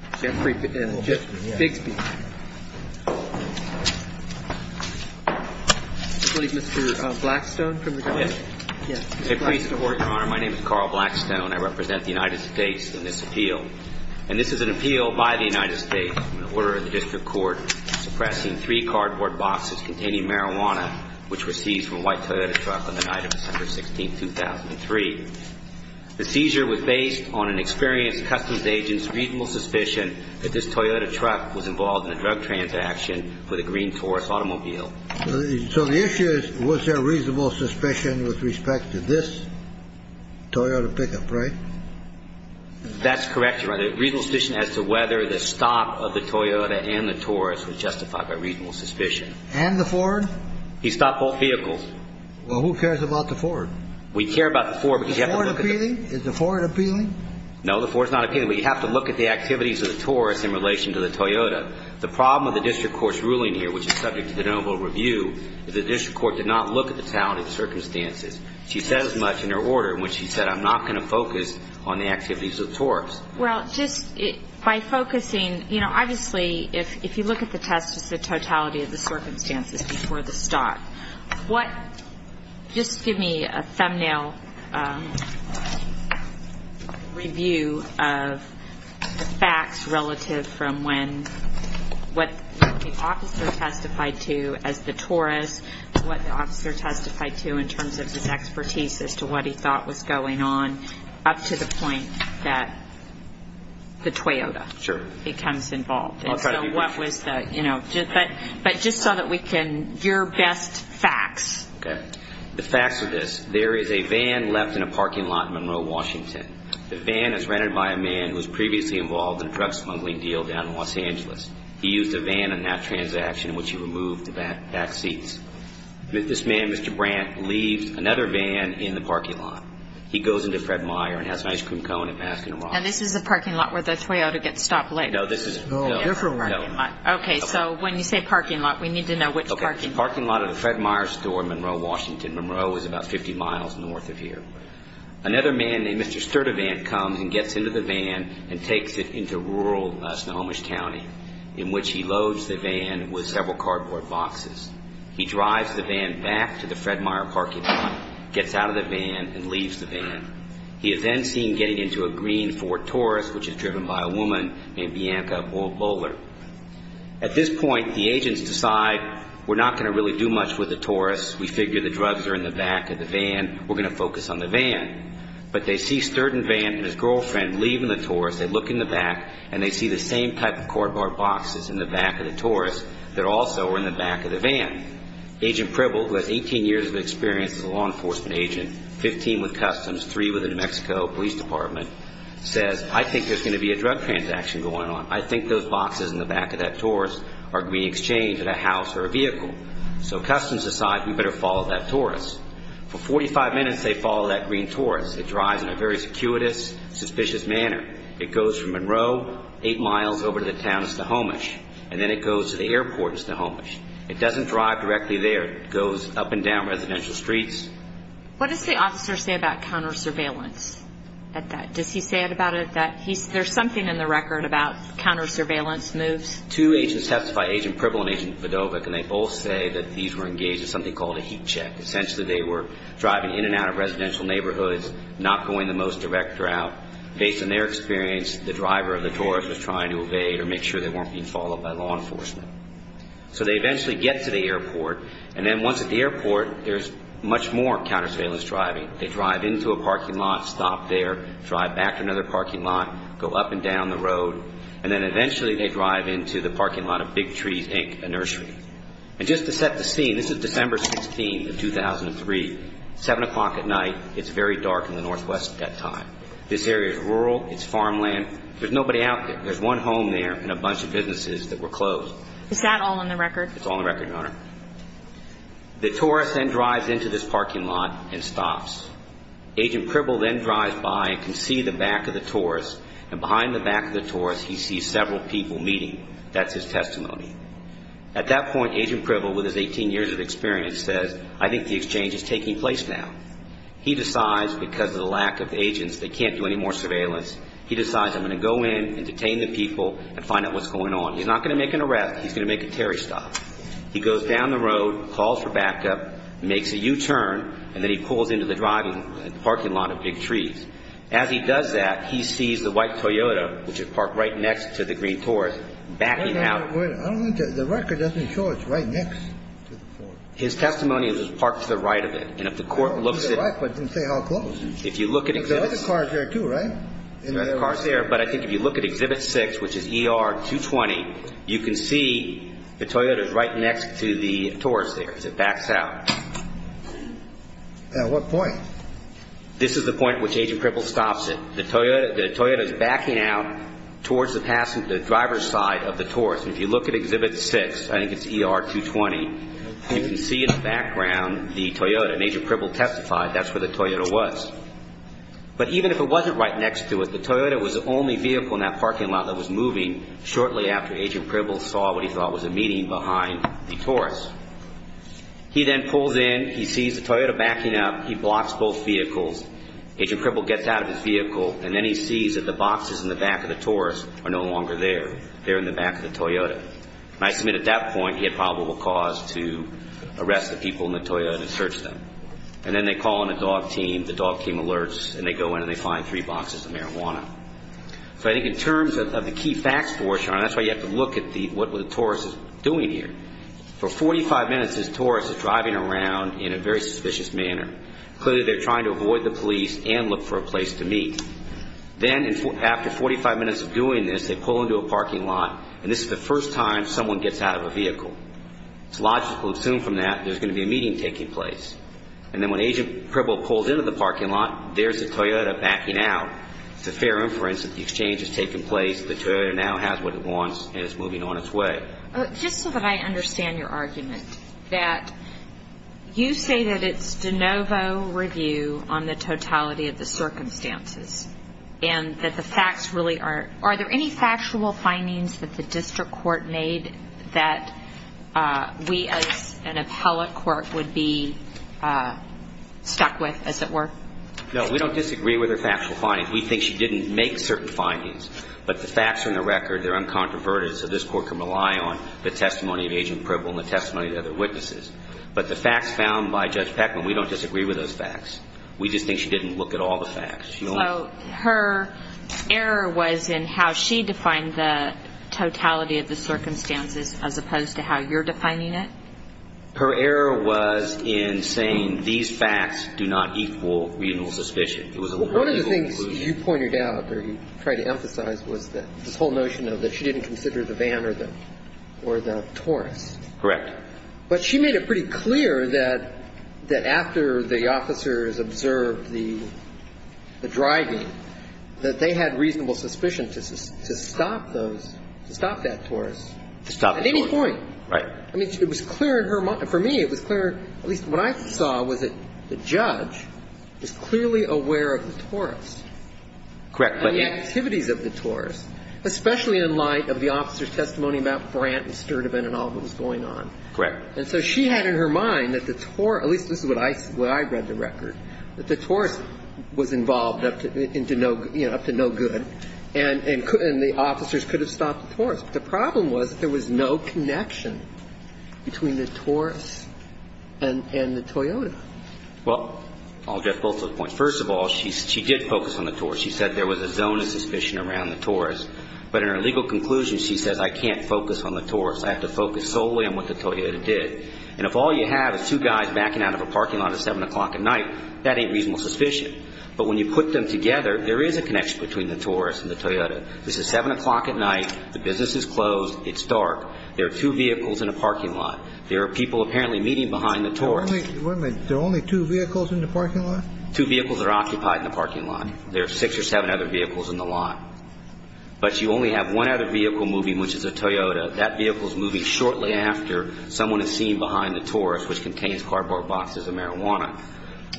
My name is Carl Blackstone. I represent the United States in this appeal. And this is an appeal by the United States, in order of the District Court, suppressing three cardboard boxes containing marijuana, which were seized from a white Toyota truck on the night of the incident. This is a reasonable suspicion that this Toyota truck was involved in a drug transaction with a green Taurus automobile. So the issue is, was there reasonable suspicion with respect to this Toyota pickup, right? That's correct, Your Honor. The reasonable suspicion as to whether the stop of the Toyota and the Taurus was justified by reasonable suspicion. And the Ford? He stopped both vehicles. Well, who cares about the Ford? We care about the Ford. Is the Ford appealing? No, the Ford's not appealing. But you have to look at the activities of the Taurus in relation to the Toyota. The problem with the District Court's ruling here, which is subject to the noble review, is the District Court did not look at the totality of the circumstances. She says much in her order in which she said, I'm not going to focus on the activities of the Taurus. Well, just by focusing, you know, obviously, if you look at the test, it's the totality of the circumstances before the stop. Just give me a review of the facts relative from when, what the officer testified to as the Taurus, what the officer testified to in terms of his expertise as to what he thought was going on, up to the point that the Toyota becomes involved. Sure. I'll try to be brief. And so what was the, you know, but just so that we can, your best facts. Okay. The facts are this. There is a van left in a parking lot in Monroe, Washington. The van is rented by a man who was previously involved in a drug smuggling deal down in Los Angeles. He used a van in that transaction in which he removed the back seats. This man, Mr. Brandt, leaves another van in the parking lot. He goes into Fred Meyer and has an ice cream cone and a mask in his mouth. And this is the parking lot where the Toyota gets stopped later? No. Okay. So when you say parking lot, we need to know which parking lot. The man named Mr. Sturdivant comes and gets into the van and takes it into rural Snohomish County in which he loads the van with several cardboard boxes. He drives the van back to the Fred Meyer parking lot, gets out of the van and leaves the van. He is then seen getting into a green Ford Taurus which is driven by a woman named Bianca Bowler. At this point, the agents decide we're not going to really do much with the van. But they see Sturdivant and his girlfriend leaving the Taurus. They look in the back and they see the same type of cardboard boxes in the back of the Taurus that are also in the back of the van. Agent Pribble, who has 18 years of experience as a law enforcement agent, 15 with Customs, three with the New Mexico Police Department, says I think there's going to be a drug transaction going on. I think those boxes in the back of that Taurus are green exchange at a house or a vehicle. So Customs decides we better follow that Taurus. For 45 minutes they follow that green Taurus. It drives in a very circuitous, suspicious manner. It goes from Monroe eight miles over to the town of Snohomish and then it goes to the airport in Snohomish. It doesn't drive directly there. It goes up and down residential streets. What does the officer say about counter surveillance at that? Does he say about it that there's something in the record about counter surveillance moves? Two agents testify, Agent Pribble and Agent Fedovic, and they both say that these were engaged in something called a heat check. Essentially they were driving in and out of residential neighborhoods, not going the most direct route. Based on their experience, the driver of the Taurus was trying to evade or make sure they weren't being followed by law enforcement. So they eventually get to the airport, and then once at the airport, there's much more counter surveillance driving. They drive into a parking lot, stop there, drive back to another parking lot, go up and down the road, and then eventually they drive into the area and they stop by a grocery store and they park next to the utility room and they park again. owner of the organic trees inked nursery. And just to set the scene, this is December 16 of 2003, seven o'clock at night. It's very dark in the northwest at that time. This area is rural. It's farmland. There's nobody out there. There's one home there and a bunch of businesses that were closed. Is that all on the record? It's all on the record, Your Honor. The tourist then drives into this parking lot and stops. Agent Pribble then drives by and can see the back of the tourist. And behind the back of the tourist, he sees several people meeting. That's his testimony. At that point, Agent Pribble, with his 18 years of experience, says, I think the exchange is taking place now. He decides, because of the lack of evidence, that Agent Pribble is not going to make an arrest. He's going to make a terry stop. He goes down the road, calls for backup, makes a U-turn, and then he pulls into the driving parking lot of big trees. As he does that, he sees the white Toyota, which is parked right next to the green tourist, backing out. I don't think the record doesn't show it's right next to the forest. His testimony is it's parked to the right of it. And if the court looks at it... No, it's to the right, but it didn't say how close. There are other cars there too, right? There are other cars there, but I think if you look at Exhibit 6, which is ER 220, you can see the Toyota is right next to the tourist there as it backs out. At what point? This is the point at which Agent Pribble stops it. The Toyota is backing out towards the driver's side of the tourist. If you look at Exhibit 6, I think it's ER 220, you can see in that parking lot that the Toyota was. But even if it wasn't right next to it, the Toyota was the only vehicle in that parking lot that was moving shortly after Agent Pribble saw what he thought was a meeting behind the tourist. He then pulls in. He sees the Toyota backing up. He blocks both vehicles. Agent Pribble gets out of his vehicle, and then he sees that the boxes in the back of the tourist are no longer there. They're in the back of the Toyota. And I submit at that point he had probable cause to arrest the people in the Toyota and that's why Agent Pribble and his team, the dog team alerts, and they go in and they find three boxes of marijuana. So I think in terms of the key facts for us, that's why you have to look at what the tourist is doing here. For 45 minutes this tourist is driving around in a very suspicious manner. Clearly they're trying to avoid the police and look for a place to meet. Then after 45 minutes of doing this, they pull into a parking lot, and this is the first time someone gets out of a vehicle. It's logical to assume from that there's going to be a meeting taking place. And then when Agent Pribble pulls into the parking lot, there's the Toyota backing out. It's a fair inference that the exchange is taking place, the Toyota now has what it wants, and it's moving on its way. Just so that I understand your argument, that you say that it's de novo review on the totality of the circumstances, and that the facts really aren't. Are there any factual findings that the district court made that we as an appellate court would be able to use to be stuck with, as it were? No, we don't disagree with her factual findings. We think she didn't make certain findings, but the facts are in the record. They're uncontroverted, so this court can rely on the testimony of Agent Pribble and the testimony of the other witnesses. But the facts found by Judge Peckman, we don't disagree with those facts. We just think she didn't look at all the facts. So her error was in how she defined the totality of the circumstances as opposed to how you're defining it? Her error was in saying these facts do not equal reasonable suspicion. It was a reasonable conclusion. One of the things you pointed out or you tried to emphasize was this whole notion that she didn't consider the van or the Taurus. Correct. But she made it pretty clear that after the officers observed the driving, that they had reasonable suspicion to stop those, to stop that But it was clear in her mind. For me, it was clear, at least what I saw, was that the judge was clearly aware of the Taurus. Correct. And the activities of the Taurus, especially in light of the officer's testimony about Brant and Sturdivant and all that was going on. Correct. And so she had in her mind that the Taurus, at least this is what I read the record, that the Taurus was involved up to no good and the officers could have stopped the Taurus. But the problem was there was no connection between the Taurus and the Toyota. Well, I'll address both of those points. First of all, she did focus on the Taurus. She said there was a zone of suspicion around the Taurus. But in her legal conclusion, she says, I can't focus on the Taurus. I have to focus solely on what the Toyota did. And if all you have is two guys backing out of a parking lot at 7 o'clock at night, that ain't reasonable suspicion. But when you put them together, there is a connection between the Taurus and the Toyota. This is 7 o'clock at night. The business is closed. It's dark. There are two vehicles in a parking lot. There are people apparently meeting behind the Taurus. Wait a minute. There are only two vehicles in the parking lot? Two vehicles are occupied in the parking lot. There are six or seven other vehicles in the lot. But you only have one other vehicle moving, which is a Toyota. That vehicle is moving shortly after someone is seen behind the Taurus, which contains cardboard boxes of marijuana.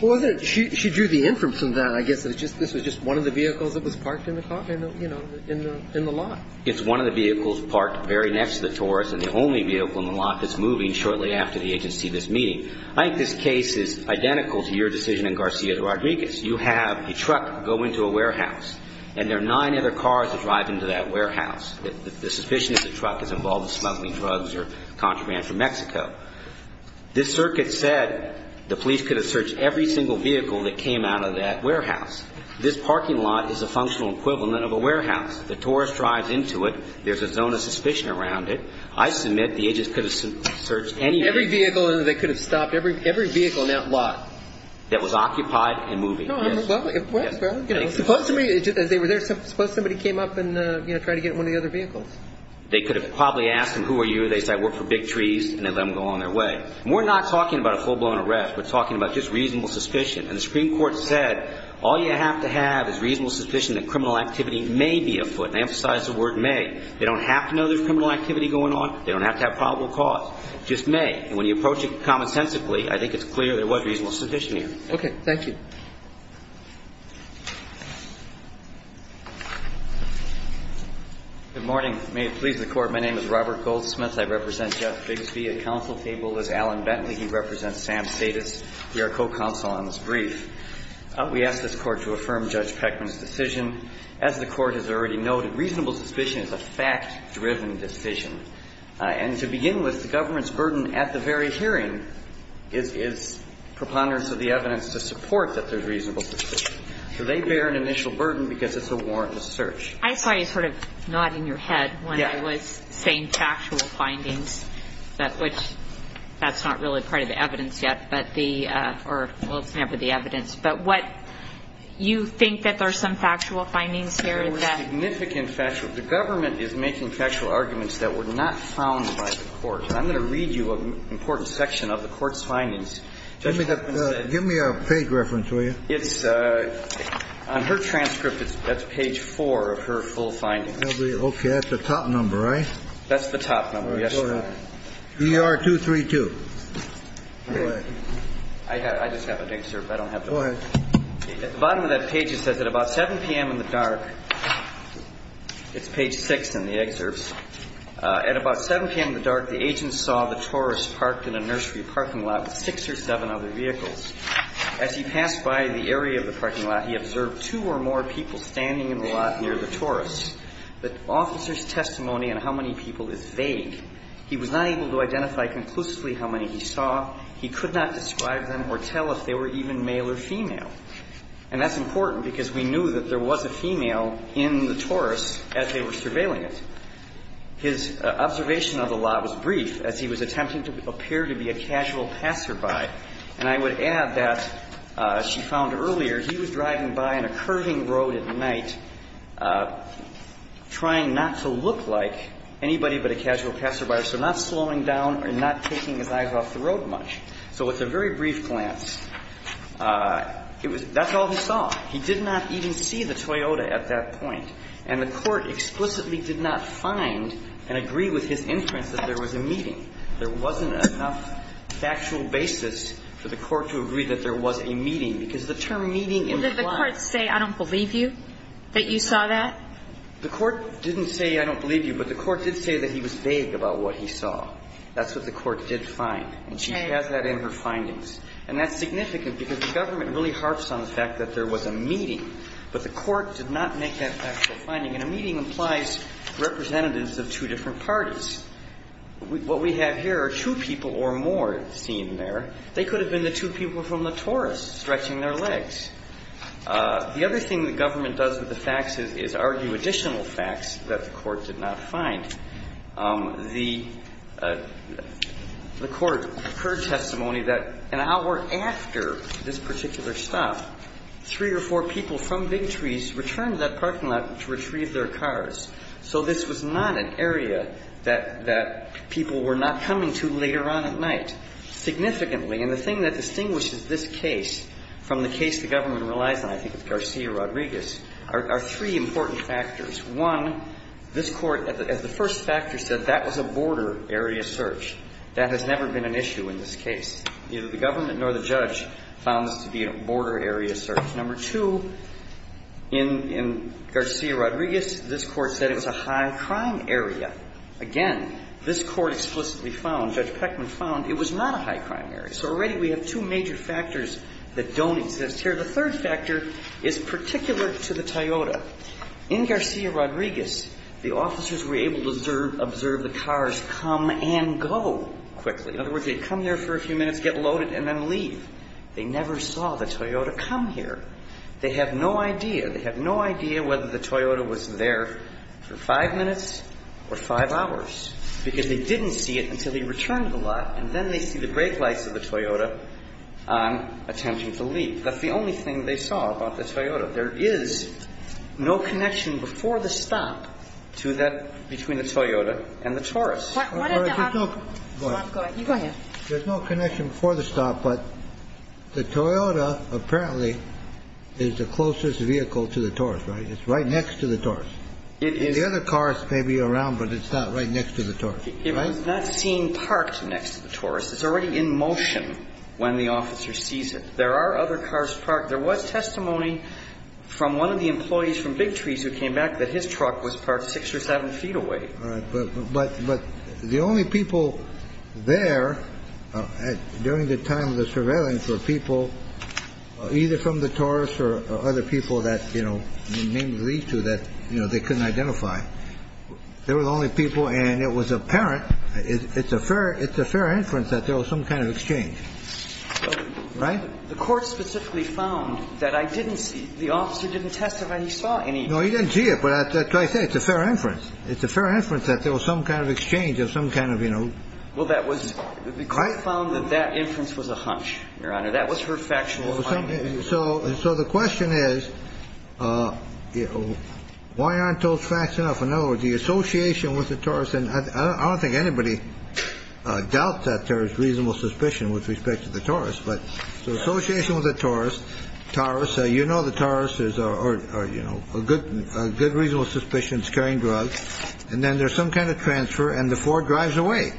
Well, she drew the inference in that, I guess, that this was just one of the vehicles that was parked in the lot. It's one of the vehicles parked very next to the Taurus, and the only vehicle in the lot that's moving shortly after the agency of this meeting. I think this case is identical to your decision in Garcia Rodriguez. You have a truck go into a warehouse, and there are nine other cars that drive into that warehouse. The suspicion is the truck is involved in smuggling drugs or contraband from Mexico. This circuit said the police could have searched every single vehicle that came out of that warehouse. This parking lot is a functional equivalent of a warehouse. The Taurus drives into it. There's a zone of suspicion around it. I submit the agents could have searched any vehicle. Every vehicle they could have stopped. Every vehicle in that lot. That was occupied and moving. Suppose somebody came up and tried to get in one of the other vehicles. They could have probably asked them, who are you? They said, I work for Big Trees, and they let them go on their way. We're not talking about a full-blown arrest. We're talking about just reasonable suspicion. And the Supreme Court said, all you have to have is reasonable suspicion that criminal activity may be afoot. And I emphasize the word may. They don't have to know there's criminal activity going on. They don't have to have probable cause. Just may. And when you approach it commonsensically, I think it's clear there was reasonable suspicion here. Okay. Thank you. Good morning. May it please the Court. My name is Robert Goldsmith. I represent Judge Bigsby at counsel table as Alan Bentley. He represents Sam Status. We are co-counsel on this brief. We ask this Court to affirm Judge Peckman's decision. As the Court has already noted, reasonable suspicion is a fact-driven decision. And to begin with, the government's burden at the very hearing is preponderance of the evidence to support that there's reasonable suspicion. So they bear an initial burden because it's a warrantless search. I saw you sort of nodding your head when I was saying factual findings, which that's not really part of the evidence yet, but the or, well, it's never the evidence. But what you think that there's some factual findings here? There were significant factual. The government is making factual arguments that were not found by the Court. And I'm going to read you an important section of the Court's findings. Give me a page reference, will you? It's on her transcript. That's page four of her full findings. Okay. That's the top number, right? That's the top number. Yes. Go ahead. ER 232. Go ahead. I just have an excerpt. I don't have the full number. Go ahead. At the bottom of that page, it says, at about 7 p.m. in the dark, it's page six in the excerpt. At about 7 p.m. in the dark, the agent saw the tourist parked in a nursery parking lot with six or seven other vehicles. As he passed by the area of the parking lot, he observed two or more people standing in the lot near the tourist. The officer's testimony on how many people is vague. He was not able to identify conclusively how many he saw. He could not describe them or tell if they were even male or female. And that's important because we knew that there was a female in the tourist as they were surveilling it. His observation of the lot was brief, as he was attempting to appear to be a casual passerby. And I would add that, as she found earlier, he was driving by on a curving road at night, trying not to look like anybody but a casual passerby. So not slowing down or not taking his eyes off the road much. So with a very brief glance, that's all he saw. He did not even see the Toyota at that point. And the court explicitly did not find and agree with his inference that there was a meeting. There wasn't enough factual basis for the court to agree that there was a meeting because the term meeting implies – Well, did the court say, I don't believe you, that you saw that? The court didn't say, I don't believe you, but the court did say that he was vague about what he saw. That's what the court did find. And she has that in her findings. And that's significant because the government really harps on the fact that there was a meeting, but the court did not make that factual finding. And a meeting implies representatives of two different parties. What we have here are two people or more seen there. They could have been the two people from the tourist stretching their legs. The other thing the government does with the facts is argue additional facts that the court did not find. The court heard testimony that an hour after this particular stop, three or four people from Big Trees returned to that parking lot to retrieve their cars. So this was not an area that people were not coming to later on at night significantly. And the thing that distinguishes this case from the case the government relies on, I think, with Garcia-Rodriguez, are three important factors. One, this Court, as the first factor said, that was a border area search. That has never been an issue in this case. Neither the government nor the judge found this to be a border area search. Number two, in Garcia-Rodriguez, this Court said it was a high-crime area. Again, this Court explicitly found, Judge Peckman found, it was not a high-crime area. So already we have two major factors that don't exist here. The third factor is particular to the Toyota. In Garcia-Rodriguez, the officers were able to observe the cars come and go quickly. In other words, they'd come there for a few minutes, get loaded, and then leave. They never saw the Toyota come here. They have no idea. They have no idea whether the Toyota was there for five minutes or five hours, because they didn't see it until he returned to the lot. And then they see the brake lights of the Toyota on, attempting to leave. That's the only thing they saw about the Toyota. There is no connection before the stop to that between the Toyota and the Taurus. Go ahead. There's no connection before the stop, but the Toyota apparently is the closest vehicle to the Taurus, right? It's right next to the Taurus. The other cars may be around, but it's not right next to the Taurus, right? It was not seen parked next to the Taurus. It's already in motion when the officer sees it. There are other cars parked. There was testimony from one of the employees from Big Trees who came back that his truck was parked six or seven feet away. But the only people there during the time of the surveillance were people either from the Taurus or other people that, you know, maybe lead to that, you know, they couldn't identify. They were the only people, and it was apparent. It's a fair inference that there was some kind of exchange, right? The court specifically found that I didn't see. The officer didn't testify he saw any. No, he didn't see it. But I say it's a fair inference. It's a fair inference that there was some kind of exchange of some kind of, you know. Well, that was because I found that that inference was a hunch. Your Honor, that was her factual. So. So the question is, you know, why aren't those facts enough? I know the association with the Taurus. And I don't think anybody doubts that there is reasonable suspicion with respect to the Taurus. But the association with the Taurus, Taurus, you know the Taurus is a good reasonable suspicion. It's carrying drugs. And then there's some kind of transfer, and the Ford drives away.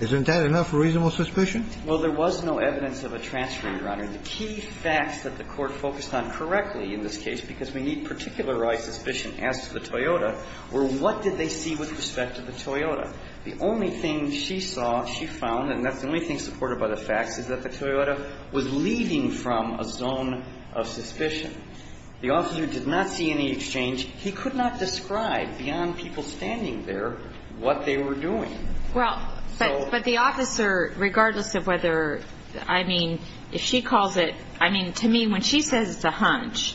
Isn't that enough reasonable suspicion? Well, there was no evidence of a transfer, Your Honor. The key facts that the court focused on correctly in this case, because we need particular right suspicion as to the Toyota, were what did they see with respect to the Toyota? The only thing she saw, she found, and that's the only thing supported by the facts, is that the Toyota was leaving from a zone of suspicion. The officer did not see any exchange. He could not describe beyond people standing there what they were doing. Well, but the officer, regardless of whether, I mean, if she calls it, I mean, to me, when she says it's a hunch,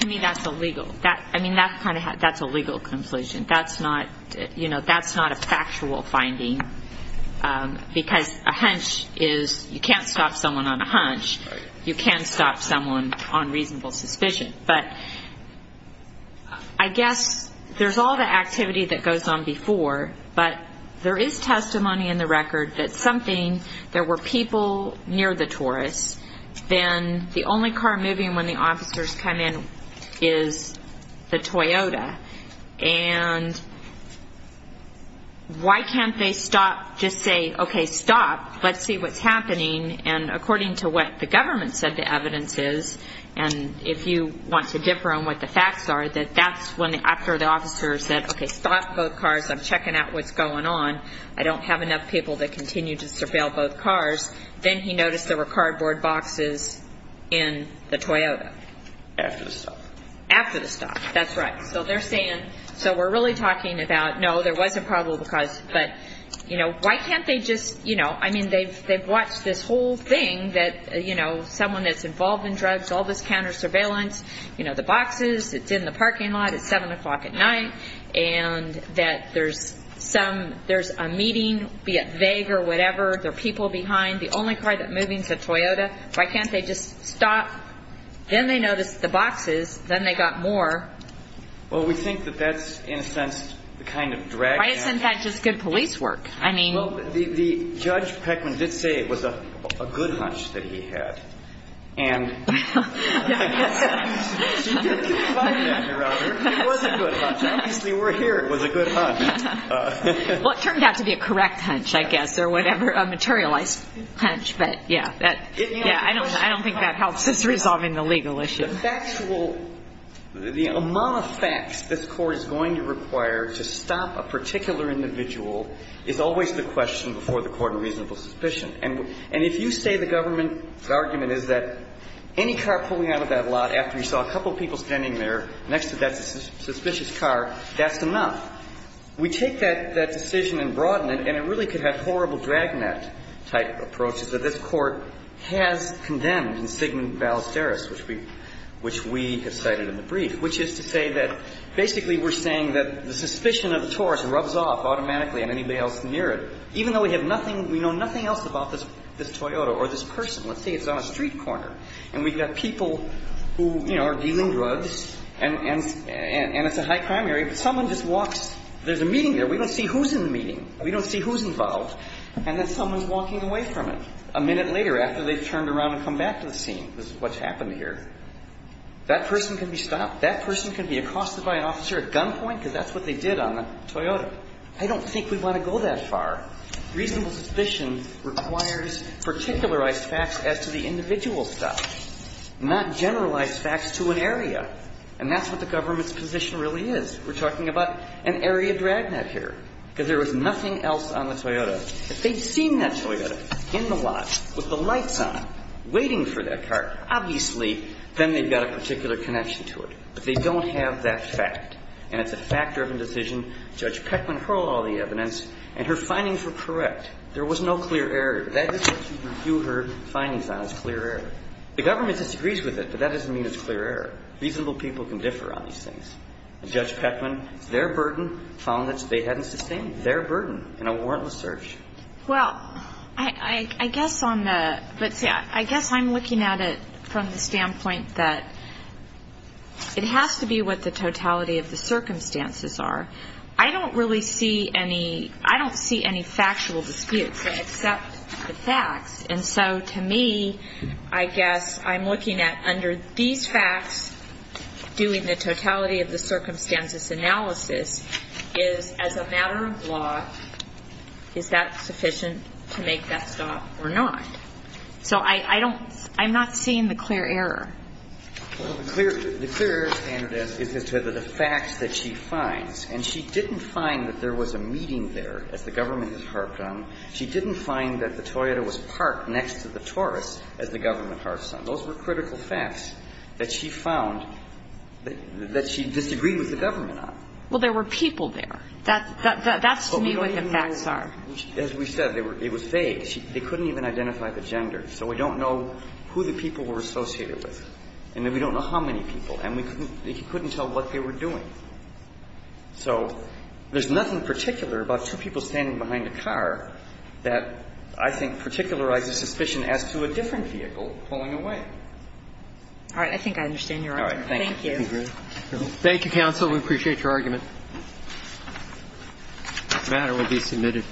to me that's illegal. I mean, that's a legal conclusion. That's not, you know, that's not a factual finding, because a hunch is, you can't stop someone on a hunch. You can stop someone on reasonable suspicion. But I guess there's all the activity that goes on before, but there is testimony in the record that something, there were people near the Taurus, then the only car moving when the officers come in is the Toyota. And why can't they stop, just say, okay, stop, let's see what's happening. And according to what the government said the evidence is, and if you want to differ on what the facts are, that that's when, after the officer said, okay, stop both cars, I'm checking out what's going on, I don't have enough people to continue to surveil both cars, then he noticed there were cardboard boxes in the Toyota. After the stop. That's right. So they're saying, so we're really talking about, no, there was a probable cause, but, you know, why can't they just, you know, I mean, they've watched this whole thing that, you know, someone that's involved in drugs, all this counter surveillance, you know, the boxes, it's in the parking lot, it's 7 o'clock at night, and that there's some, there's a meeting, be it vague or whatever, there are people behind, the only car that's moving is a Toyota, why can't they just stop? Then they noticed the boxes, then they got more. Well, we think that that's, in a sense, the kind of drag. Why isn't that just good police work? I mean. Well, Judge Peckman did say it was a good hunch that he had. And. Well, it turned out to be a correct hunch, I guess, or whatever materialized. But, yeah, that, yeah, I don't think that helps us resolving the legal issue. The factual, the amount of facts this Court is going to require to stop a particular individual is always the question before the court in reasonable suspicion. And if you say the government argument is that any car pulling out of that lot after you saw a couple of people standing there next to that suspicious car, that's enough. We take that decision and broaden it, and it really could have horrible dragnet-type approaches that this Court has condemned in Sigmund Ballesteros, which we have cited in the brief, which is to say that basically we're saying that the suspicion of the tourist rubs off automatically on anybody else near it, even though we have nothing we know nothing else about this Toyota or this person. Let's say it's on a street corner, and we've got people who, you know, are dealing drugs, and it's a high-crime area, but someone just walks. There's a meeting there. We don't see who's in the meeting. We don't see who's involved. And then someone's walking away from it a minute later after they've turned around and come back to the scene. This is what's happened here. That person can be stopped. That person can be accosted by an officer at gunpoint, because that's what they did on the Toyota. I don't think we want to go that far. Reasonable suspicion requires particularized facts as to the individual's stuff, not generalized facts to an area. And that's what the government's position really is. We're talking about an area dragnet here, because there was nothing else on the Toyota. If they've seen that Toyota in the lot with the lights on, waiting for that car, obviously then they've got a particular connection to it. But they don't have that fact. And it's a fact-driven decision. Judge Peckman hurled all the evidence, and her findings were correct. There was no clear error. That is what she reviewed her findings on, is clear error. The government disagrees with it, but that doesn't mean it's clear error. Reasonable people can differ on these things. And Judge Peckman, it's their burden, found that they hadn't sustained their burden in a warrantless search. Well, I guess on the ñ but, see, I guess I'm looking at it from the standpoint that it has to be what the totality of the circumstances are. I don't really see any ñ I don't see any factual disputes except the facts. And so, to me, I guess I'm looking at, under these facts, doing the totality of the circumstances analysis is, as a matter of law, is that sufficient to make that stop or not? So I don't ñ I'm not seeing the clear error. Well, the clear error standard is to the facts that she finds. And she didn't find that there was a meeting there, as the government has harped on. She didn't find that the Toyota was parked next to the Taurus, as the government harps on. Those were critical facts that she found that she disagreed with the government on. Well, there were people there. That's, to me, what the facts are. As we said, it was vague. They couldn't even identify the gender. So we don't know who the people were associated with. And we don't know how many people. And we couldn't tell what they were doing. So there's nothing particular about two people standing behind a car that I think particularizes suspicion as to a different vehicle pulling away. All right. I think I understand your argument. Thank you. Thank you. Thank you, counsel. We appreciate your argument. The matter will be submitted.